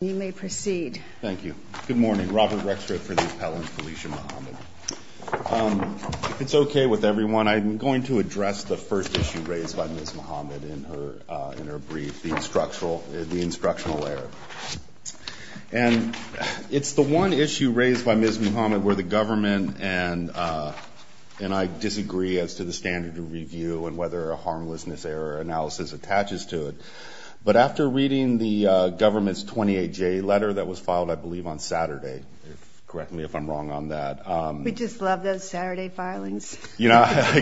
You may proceed. Thank you. Good morning, Robert Rexford for the Appellant Felicia Muhammad. It's okay with everyone. I'm going to address the first issue raised by Ms. Muhammad in her brief, the instructional error. And it's the one issue raised by Ms. Muhammad where the government and I disagree as to the standard of review and whether a harmlessness error analysis attaches to But after reading the government's 28-J letter that was filed, I believe, on Saturday, correct me if I'm wrong on that. We just love those Saturday filings. Frankly,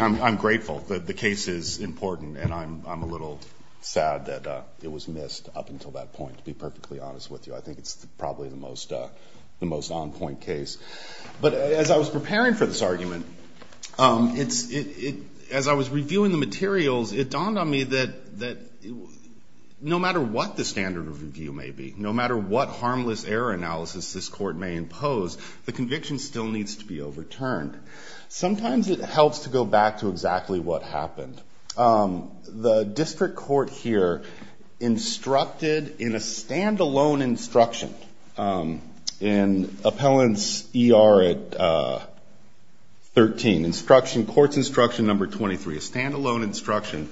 I'm grateful that the case is important. And I'm a little sad that it was missed up until that point, to be perfectly honest with you. I think it's probably the most on point case. But as I was preparing for this argument, as I was reviewing the materials, it dawned on me that no matter what the standard of review may be, no matter what harmless error analysis this court may impose, the conviction still needs to be overturned. Sometimes it helps to go back to exactly what happened. The district court here instructed in a standalone instruction in appellant's ER at 13, court's instruction number 23, a standalone instruction,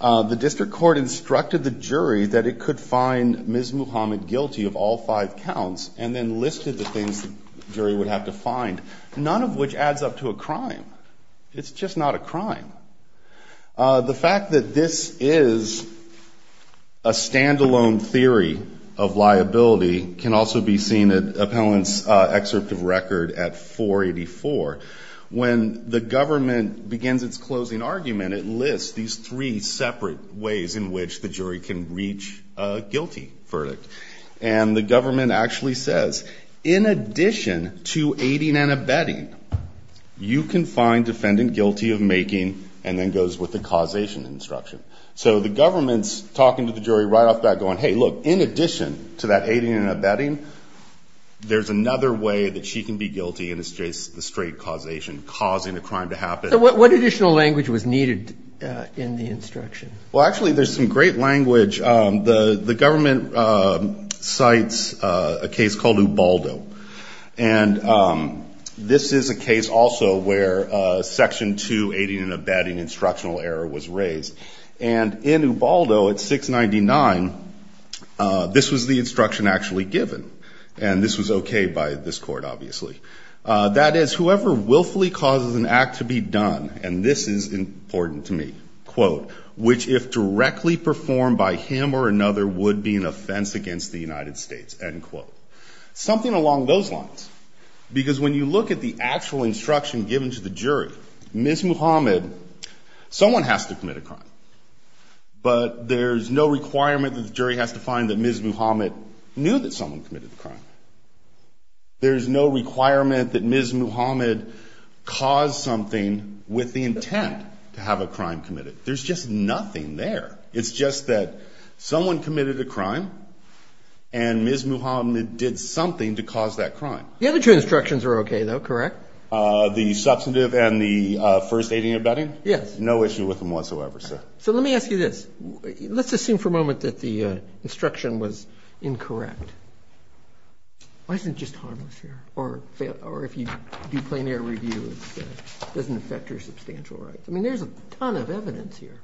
the district court instructed the jury that it could find Ms. Muhammad guilty of all five counts and then listed the things the jury would have to find, none of which adds up to a crime. It's just not a crime. The fact that this is a standalone theory of liability can also be seen appellant's excerpt of record at 484. When the government begins its closing argument, it lists these three separate ways in which the jury can reach a guilty verdict. And the government actually says in addition to aiding and abetting, you can find defendant guilty of making and then goes with the causation instruction. So the government's talking to the jury right back going, hey, look, in addition to that aiding and abetting, there's another way that she can be guilty and it's the straight causation, causing a crime to happen. So what additional language was needed in the instruction? Well, actually, there's some great language. The government cites a case called Ubaldo. And this is a case also where section two aiding and abetting instructional error was raised. And in Ubaldo at 699, this was the instruction actually given. And this was okay by this court, obviously. That is, whoever willfully causes an act to be done, and this is important to me, quote, which if directly performed by him or another would be an offense against the United States, end quote. Something along those lines. Because when you look at the actual instruction given to the jury, Ms. Muhammad, someone has to commit a crime. But there's no requirement that the jury has to find that Ms. Muhammad knew that someone committed the crime. There's no requirement that Ms. Muhammad caused something with the intent to have a crime committed. There's just nothing there. It's just that someone committed a crime and Ms. Muhammad did something to cause that crime. The other two instructions are okay, though, correct? The substantive and the first aiding and abetting? Yes. No issue with them whatsoever, sir. So let me ask you this. Let's assume for a moment that the instruction was incorrect. Why isn't it just harmless here? Or if you do plein air review, doesn't affect your substantial rights? I mean, there's a ton of evidence here.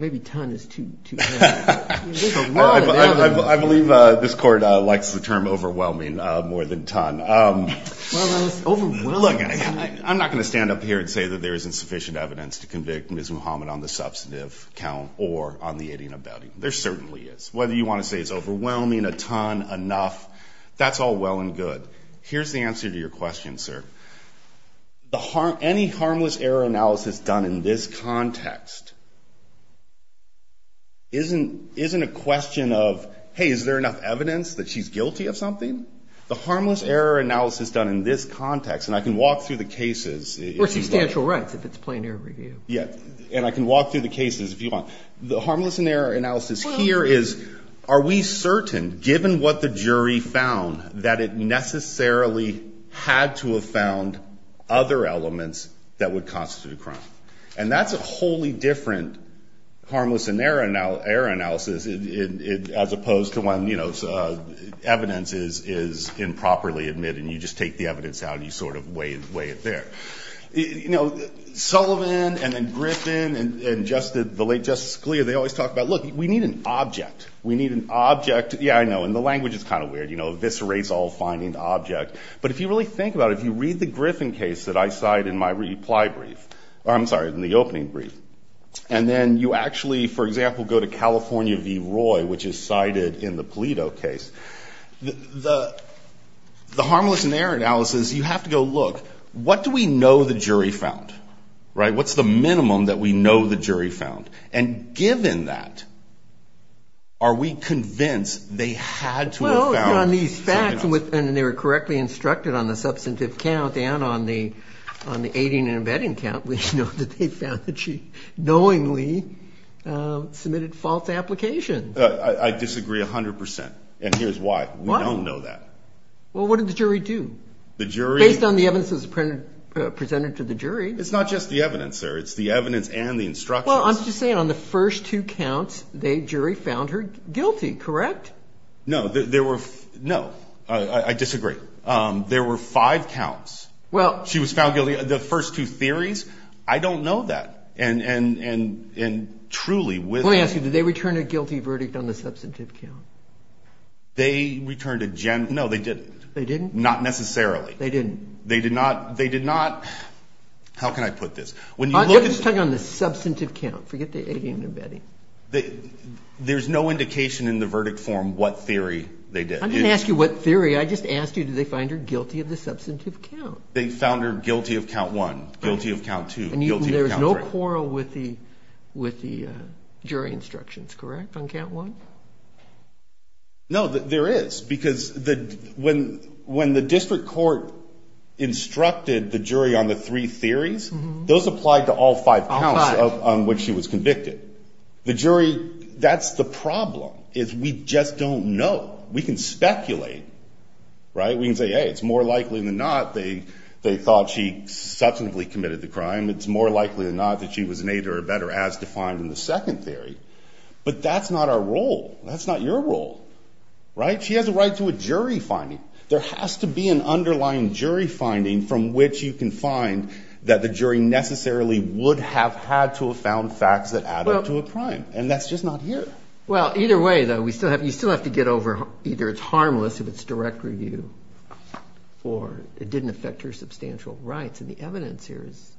Maybe ton is too heavy. There's a lot of evidence. I believe this court likes the term overwhelming more than ton. Look, I'm not going to stand up here and say that there isn't sufficient evidence to convict Ms. Muhammad on the substantive count or on the aiding and abetting. There certainly is. Whether you want to say it's overwhelming, a ton, enough, that's all well and good. Here's the answer to your question, sir. Any harmless error analysis done in this context isn't a question of, hey, is there enough evidence that she's guilty of something? The harmless error analysis done in this context, and I can walk through the cases. Or substantial rights if it's plein air review. Yeah. And I can walk through the cases if you want. The harmless error analysis here is, are we certain, given what the jury found, that it necessarily had to have found other elements that would constitute a crime? And that's a wholly different harmless error analysis as opposed to when evidence is improperly admitted and you just take the evidence out and you sort of weigh it there. Sullivan and then Griffin and the late Justice Scalia, they always talk about, look, we need an object. We need an object. Yeah, I know. And the language is kind of weird. You know, eviscerates all finding object. But if you really think about it, if you read the Griffin case that I cite in my reply brief, I'm sorry, in the opening brief, and then you actually, for example, go to California v. Roy, which is cited in the Pulido case, the harmless error analysis, you have to go, look, what do we know the jury found? Right? What's the minimum that we know the jury found? And given that, are we convinced they had to have found... Well, on these facts, and they were correctly instructed on the substantive count and on the aiding and abetting count, we know that they found that she knowingly submitted false applications. I disagree 100 percent. And here's why. We don't know that. Well, what did the jury do? The jury... Based on the evidence that was presented to the jury... It's not just the evidence, sir. It's the evidence and the instructions. Well, I'm just saying on the first two counts, the jury found her guilty, correct? No, there were... No, I disagree. There were five counts. Well... She was found guilty. The first two theories, I don't know that. And truly with... Let me ask you, did they return a guilty verdict on the did not... How can I put this? When you look at... You're just talking on the substantive count. Forget the aiding and abetting. There's no indication in the verdict form what theory they did. I didn't ask you what theory. I just asked you, did they find her guilty of the substantive count? They found her guilty of count one, guilty of count two, guilty of count three. And there was no quarrel with the jury instructions, correct, on count one? No, there is. Because when the district court instructed the jury on the three theories, those applied to all five counts on which she was convicted. The jury... That's the problem, is we just don't know. We can speculate, right? We can say, hey, it's more likely than not they thought she substantively committed the crime. It's more likely than not that she was an aider or abetter as defined in the second theory. But that's not our role. That's not your role, right? She has a right to a jury finding. There has to be an underlying jury finding from which you can find that the jury necessarily would have had to have found facts that add up to a crime. And that's just not here. Well, either way though, we still have... You still have to get over either it's harmless if it's direct review or it didn't affect her substantial rights. The evidence here is...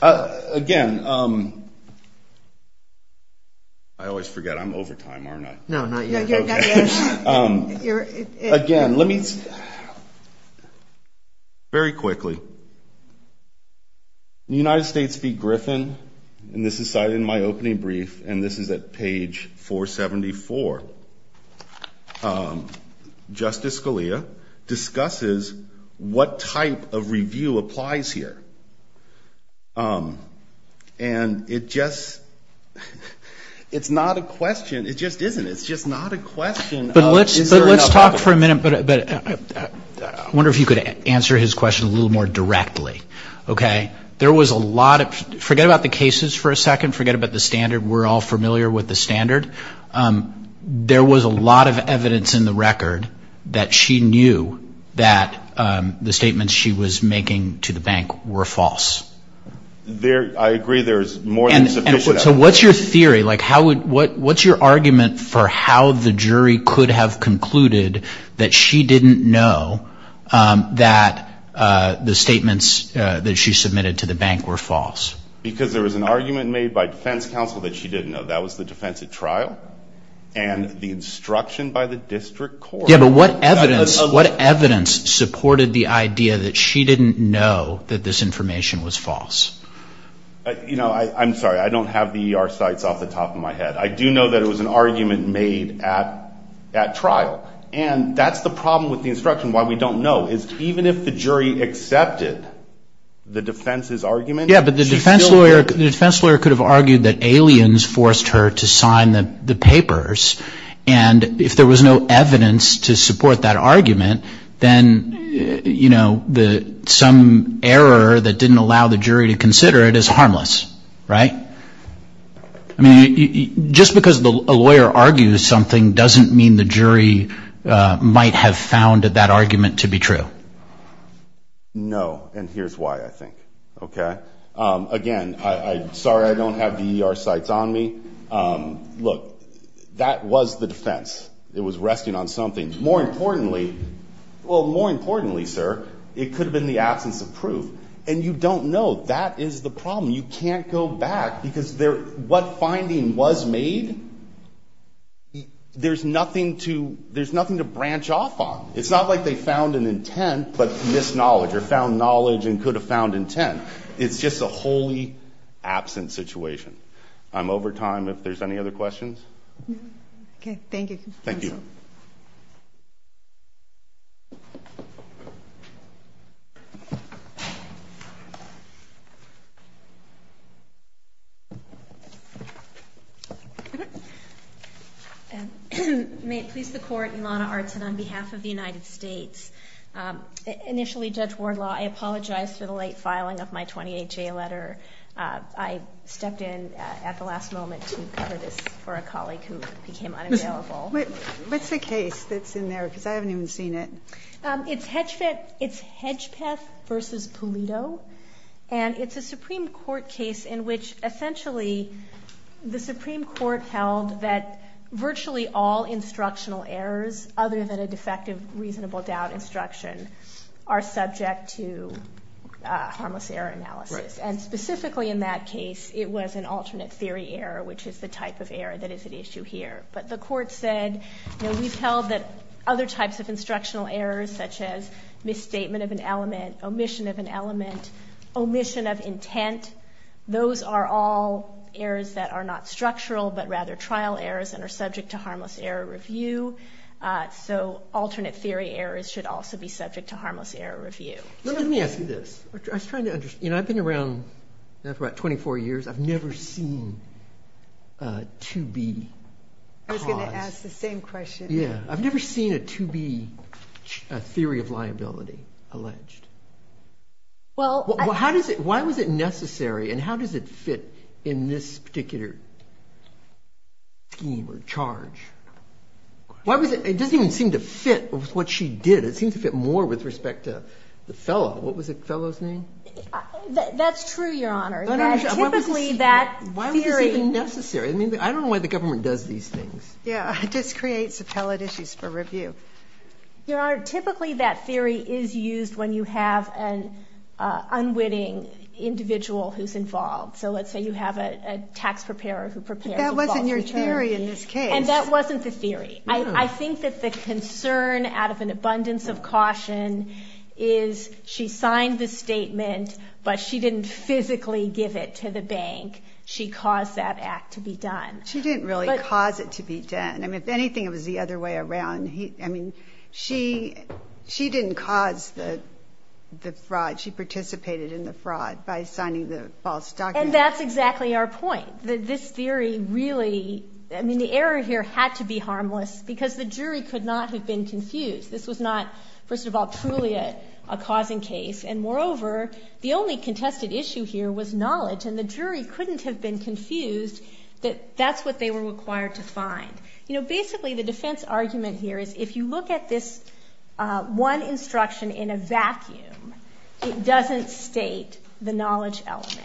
Again, I always forget, I'm over time, aren't I? No, not yet. Again, let me... Very quickly. In the United States v. Griffin, and this is cited in my opening brief, and this is at page 474, Justice Scalia discusses what type of review applies here. And it just... It's not a question. It just isn't. It's just not a question. But let's talk for a minute, but I wonder if you could answer his question a little more directly. Okay? There was a lot of... Forget about the cases for a second. Forget about the standard. We're all familiar with the standard. There was a lot of evidence in the record that she knew that the statements she was making to the bank were false. I agree. There's more than sufficient evidence. And so what's your theory? What's your argument for how the jury could have concluded that she didn't know that the statements that she submitted to the bank were false? Because there was an argument made by defense counsel that she didn't know. That was the defense at trial, and the instruction by the district court... Yeah, but what evidence supported the idea that she didn't know that this information was false? You know, I'm sorry. I don't have the ER sites off the top of my head. I do know that it was an argument made at trial. And that's the problem with the instruction. Why we don't know is even if the jury accepted the defense's argument... Yeah, but the defense lawyer could have argued that aliens forced her to sign the papers. And if there was no evidence to support that argument, then, you know, some error that didn't allow the jury to consider it is harmless, right? I mean, just because a lawyer argues something doesn't mean the jury might have founded that argument to be true. No, and here's why, I think, okay? Again, sorry, I don't have the ER sites on me. Look, that was the defense. It was resting on something. More importantly, well, more importantly, sir, it could have been the absence of proof. And you don't know. That is the problem. You can't go back because what finding was made, there's nothing to branch off on. It's not like they missed knowledge or found knowledge and could have found intent. It's just a wholly absent situation. I'm over time if there's any other questions. Okay, thank you. Thank you. And may it please the court, Ilana Artsin on behalf of the United States. Initially, Judge Wardlaw, I apologize for the late filing of my 28J letter. I stepped in at the last moment to cover this for a colleague who became unavailable. What's the case that's in there? Because I haven't even seen it. It's Hedgepeth versus Pulido. And it's a Supreme Court case in which essentially the Supreme Court held that virtually all instructional errors other than a defective reasonable doubt instruction are subject to harmless error analysis. And specifically in that case, it was an alternate theory error, which is the type of error that is at issue here. But the court said, you know, we've held that other types of instructional errors such as misstatement of an element, omission of an element, omission of intent, those are all errors that are not structural but rather trial errors and are subject to harmless error review. So alternate theory errors should also be subject to harmless error review. Let me ask you this. I've been around for about 24 years. I've never seen a 2B cause. I was going to ask the same question. Yeah, I've never seen a 2B theory of liability alleged. Well, how does it, why was it necessary and how does it fit in this particular scheme or charge? Why was it, it doesn't even seem to fit with what she did. It seems to fit more with respect to the fellow. What was the fellow's name? That's true, your honor. Typically that theory. Why was this even necessary? I don't know why the government does these things. Yeah, it just creates appellate issues for review. Your honor, typically that theory is used when you have an unwitting individual who's involved. So let's say you have a tax preparer who prepares. But that wasn't your theory in this case. And that wasn't the theory. I think that the concern out of an abundance of caution is she signed the bank. She caused that act to be done. She didn't really cause it to be done. I mean, if anything, it was the other way around. I mean, she didn't cause the fraud. She participated in the fraud by signing the false documents. And that's exactly our point. This theory really, I mean, the error here had to be harmless because the jury could not have been confused. This was not, first of all, truly a causing case. And moreover, the only contested issue here was knowledge. And the jury couldn't have been confused that that's what they were required to find. You know, basically the defense argument here is if you look at this one instruction in a vacuum, it doesn't state the knowledge element.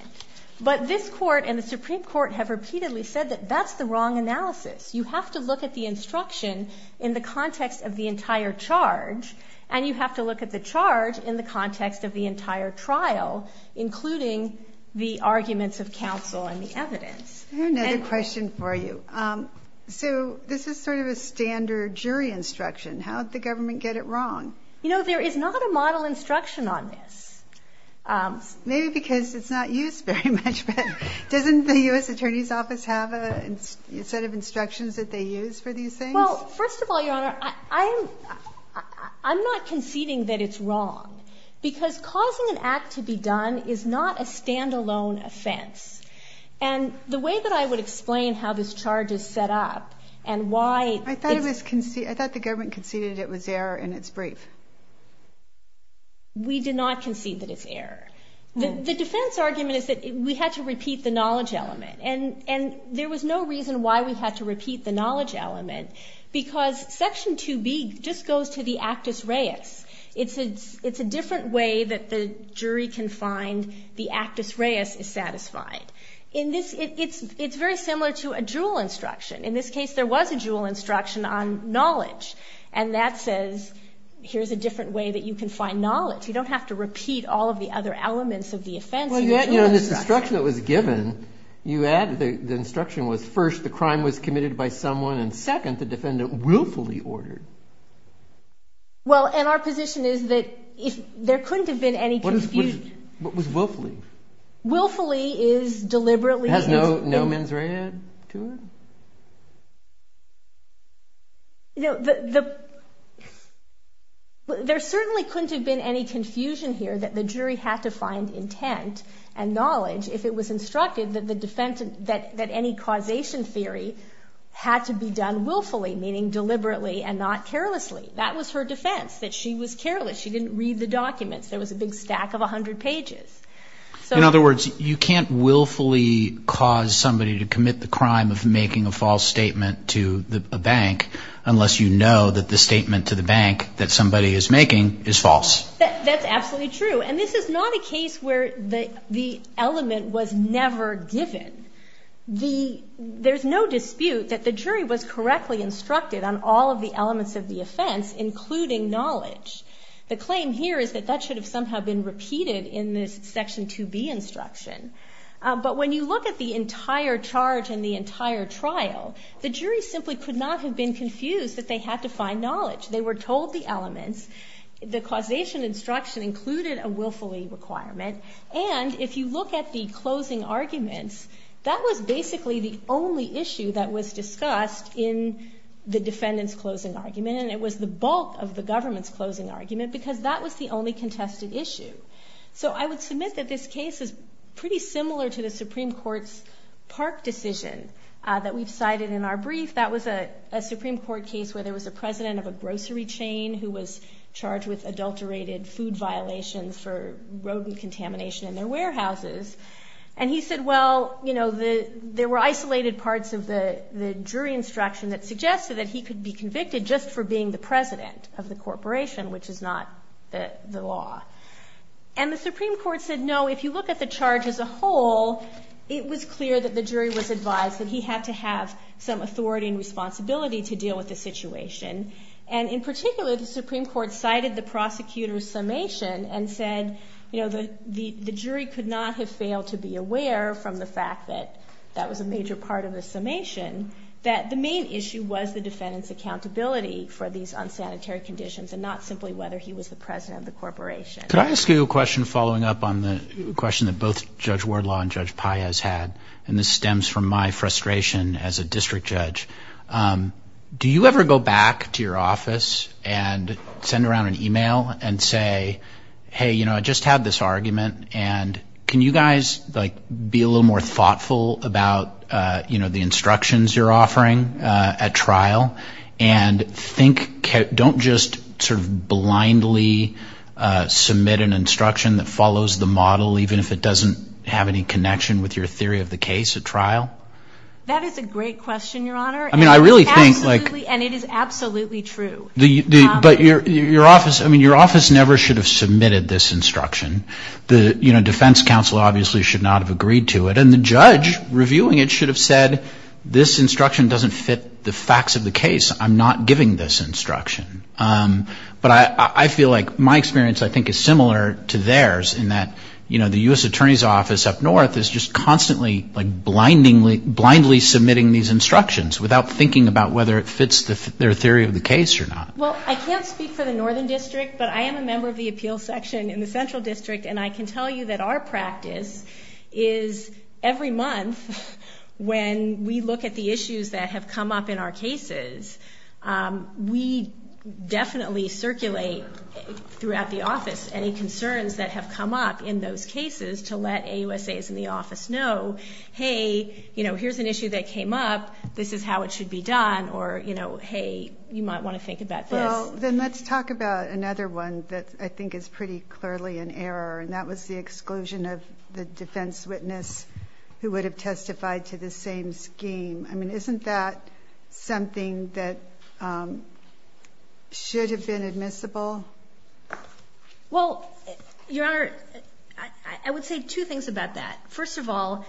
But this court and the Supreme Court have repeatedly said that that's the wrong analysis. You have to look at the And you have to look at the charge in the context of the entire trial, including the arguments of counsel and the evidence. I have another question for you. So this is sort of a standard jury instruction. How did the government get it wrong? You know, there is not a model instruction on this. Maybe because it's not used very much. But doesn't the U.S. Attorney's Office have a set of instructions that they use for these things? First of all, Your Honor, I'm not conceding that it's wrong. Because causing an act to be done is not a stand-alone offense. And the way that I would explain how this charge is set up and why... I thought the government conceded it was error and it's brief. We did not concede that it's error. The defense argument is that we had to repeat the knowledge element. Because Section 2B just goes to the actus reus. It's a different way that the jury can find the actus reus is satisfied. It's very similar to a jewel instruction. In this case, there was a jewel instruction on knowledge. And that says, here's a different way that you can find knowledge. You don't have to repeat all of the other elements of the offense. Well, you know, this instruction that was given, you add the instruction was, first, the crime was committed by someone. And second, the defendant willfully ordered. Well, and our position is that there couldn't have been any confusion. What was willfully? Willfully is deliberately... It has no mens rea to it? There certainly couldn't have been any confusion here that the jury had to find intent and had to be done willfully, meaning deliberately and not carelessly. That was her defense, that she was careless. She didn't read the documents. There was a big stack of 100 pages. In other words, you can't willfully cause somebody to commit the crime of making a false statement to a bank unless you know that the statement to the bank that somebody is making is false. That's absolutely true. And this is not a case where the element was never given. The... There's no dispute that the jury was correctly instructed on all of the elements of the offense, including knowledge. The claim here is that that should have somehow been repeated in this Section 2B instruction. But when you look at the entire charge and the entire trial, the jury simply could not have been confused that they had to find knowledge. They were told the elements. The causation instruction included a willfully requirement. And if you look at the closing arguments, that was basically the only issue that was discussed in the defendant's closing argument. And it was the bulk of the government's closing argument because that was the only contested issue. So I would submit that this case is pretty similar to the Supreme Court's Park decision that we've cited in our brief. That was a Supreme Court case where there was a president of a grocery chain who was charged with adulterated food violations for rodent contamination in their warehouses. And he said, well, you know, the... There were isolated parts of the jury instruction that suggested that he could be convicted just for being the president of the corporation, which is not the law. And the Supreme Court said, no, if you look at the charge as a whole, it was clear that the jury was advised that he had to have some authority and responsibility to deal with the situation. And in particular, the Supreme Court cited the prosecutor's summation and said, you know, the jury could not have failed to be aware from the fact that that was a major part of the summation, that the main issue was the defendant's accountability for these unsanitary conditions and not simply whether he was the president of the corporation. Could I ask you a question following up on the question that both Judge Wardlaw and Judge Paez had? And this stems from my frustration as a district judge. Do you ever go back to your office and send around an email and say, hey, you know, I just had this argument and can you guys, like, be a little more thoughtful about, you know, the instructions you're offering at trial? And think... Don't just sort of blindly submit an instruction that follows the model, even if it doesn't have any connection with your theory of the case at trial. That is a great question, Your Honor. I mean, I really think like... And it is absolutely true. But your office, I mean, your office never should have submitted this instruction. The, you know, defense counsel obviously should not have agreed to it. And the judge reviewing it should have said, this instruction doesn't fit the facts of the case. I'm not giving this instruction. But I feel like my experience, I think, is similar to theirs in that, you know, the U.S. Attorney's Office up north is just constantly, like, blindly submitting these instructions without thinking about whether it fits their theory of the case or not. Well, I can't speak for the Northern District, but I am a member of the appeals section in the Central District. And I can tell you that our practice is every month, when we look at the issues that have come up in our cases, we definitely circulate throughout the office any concerns that have come up in those cases to let AUSAs in the office know, hey, you know, this is an issue that came up. This is how it should be done. Or, you know, hey, you might want to think about this. Well, then let's talk about another one that I think is pretty clearly an error. And that was the exclusion of the defense witness who would have testified to the same scheme. I mean, isn't that something that should have been admissible? Well, Your Honor, I would say two things about that. First of all,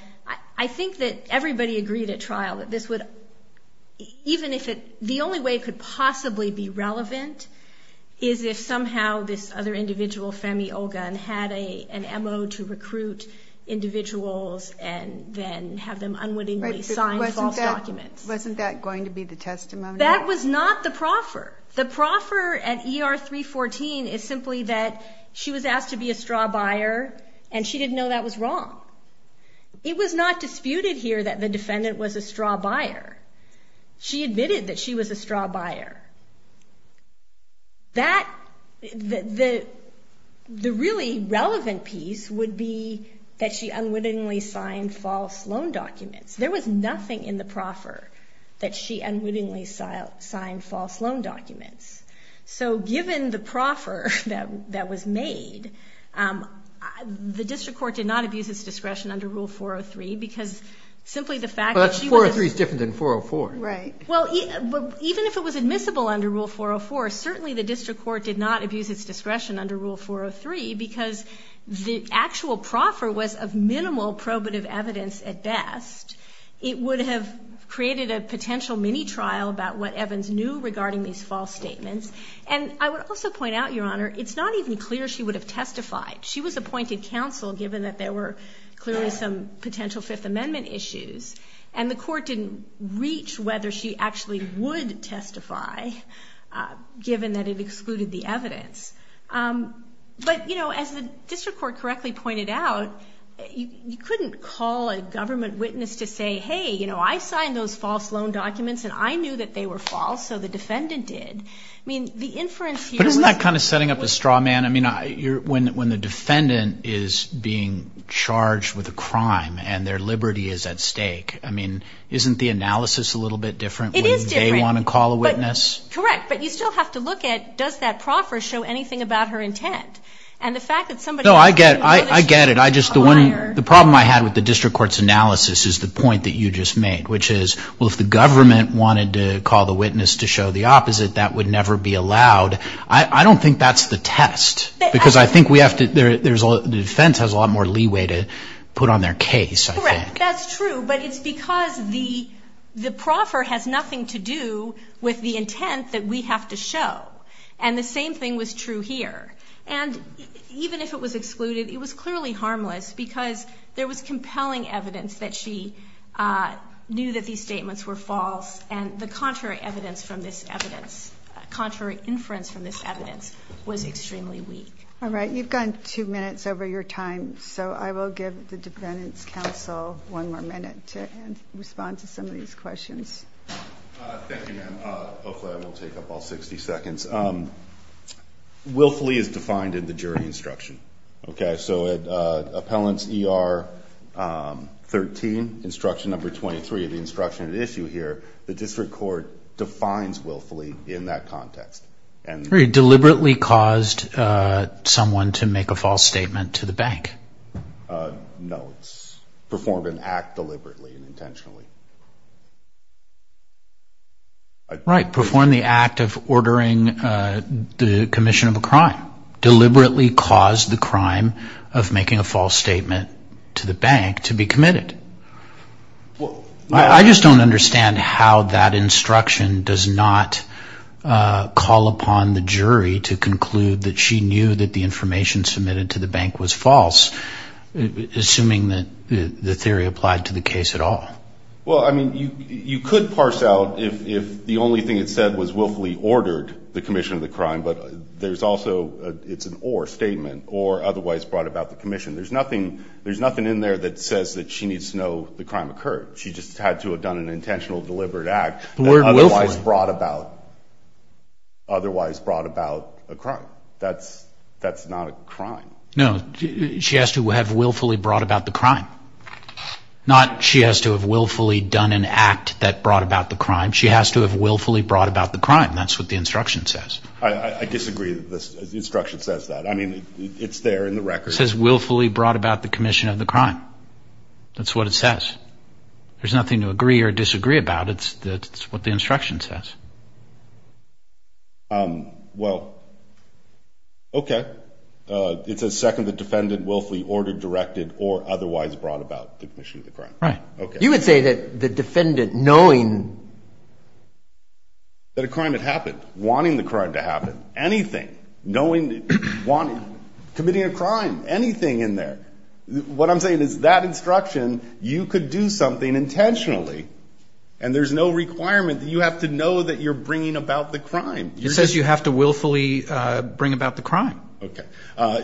I think that everybody agreed at trial that this would, even if it, the only way it could possibly be relevant is if somehow this other individual, Femi Olgun, had an MO to recruit individuals and then have them unwittingly sign false documents. Wasn't that going to be the testimony? That was not the proffer. The proffer at ER 314 is simply that she was asked to be a straw buyer, and she didn't know that was wrong. It was not disputed here that the defendant was a straw buyer. She admitted that she was a straw buyer. That, the really relevant piece would be that she unwittingly signed false loan documents. There was nothing in the proffer that she unwittingly signed false loan documents. So given the proffer that was made, the district court did not abuse its discretion under Rule 403 because simply the fact that she was... But 403 is different than 404. Right. Well, even if it was admissible under Rule 404, certainly the district court did not abuse its discretion under Rule 403 because the actual proffer was of minimal probative evidence at best. It would have created a potential mini-trial about what Evans knew regarding these false statements. And I would also point out, Your Honor, it's not even clear she would have testified. She was appointed counsel given that there were clearly some potential Fifth Amendment issues, and the court didn't reach whether she actually would testify given that it excluded the evidence. But, you know, as the district court correctly pointed out, you couldn't call a government witness to say, hey, you know, I signed those false loan documents, and I knew that they were false, so the defendant did. I mean, the inference here... But isn't that kind of setting up a straw man? I mean, when the defendant is being charged with a crime and their liberty is at stake, I mean, isn't the analysis a little bit different when they want to call a witness? It is different. Correct. But you still have to look at, does that proffer show anything about her intent? And the fact that somebody... No, I get it. I get it. The problem I had with the district court's analysis is the opposite. That would never be allowed. I don't think that's the test, because I think we have to... The defense has a lot more leeway to put on their case, I think. Correct. That's true. But it's because the proffer has nothing to do with the intent that we have to show. And the same thing was true here. And even if it was excluded, it was clearly harmless, because there was compelling evidence that she knew that these statements were false. And the contrary evidence from this evidence, contrary inference from this evidence, was extremely weak. All right. You've gone two minutes over your time. So I will give the defendant's counsel one more minute to respond to some of these questions. Thank you, ma'am. Hopefully I won't take up all 60 seconds. Willfully is defined in the jury instruction. Okay? So at Appellant's ER 13, instruction number 23, the instruction at issue here, the district court defines willfully in that context. Deliberately caused someone to make a false statement to the bank. No. Performed an act deliberately and intentionally. Right. Performed the act of ordering the commission of a crime. Deliberately caused the crime of making a false statement to the bank to be committed. I just don't understand how that instruction does not call upon the jury to conclude that she knew that the information submitted to the bank was false, assuming that the theory applied to the case at all. Well, I mean, you could parse out if the only thing it said was willfully ordered the commission of the crime, but there's also, it's an or statement, or otherwise brought about the commission. There's nothing, there's nothing in there that says that she needs to know the crime occurred. She just had to have done an intentional deliberate act that otherwise brought about, otherwise brought about a crime. That's not a crime. No, she has to have willfully brought about the crime. Not she has to have willfully done an act that brought about the crime. She has to have willfully brought about the crime. That's what the instruction says. I disagree that the instruction says that. I mean, it's there in the record. It says willfully brought about the commission of the crime. That's what it says. There's nothing to agree or disagree about. It's, that's what the instruction says. Um, well, okay. Uh, it says second, the defendant willfully ordered, directed or otherwise brought about the commission of the crime. Right. Okay. You would say that the defendant knowing. That a crime had happened, wanting the crime to happen, anything, knowing, wanting, committing a crime, anything in there, what I'm saying is that instruction, you could do something intentionally and there's no requirement that you have to know that you're bringing about the crime. It says you have to willfully bring about the crime. Okay. Uh,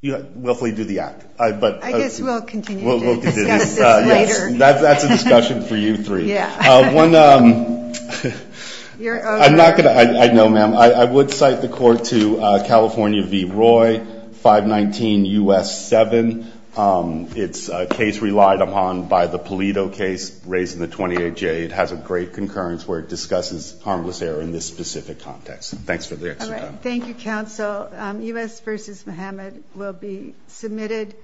you know, willfully do the act, but. I guess we'll continue to discuss this later. That's a discussion for you three. Yeah. One, um, I'm not going to, I know ma'am, I would cite the court to, uh, California V. Roy, 519 U.S. 7. Um, it's a case relied upon by the Pulido case raised in the 28 J. It has a great concurrence where it discusses harmless error in this specific context. Thanks for the extra time. Thank you, counsel. Um, U.S. versus Muhammad will be submitted.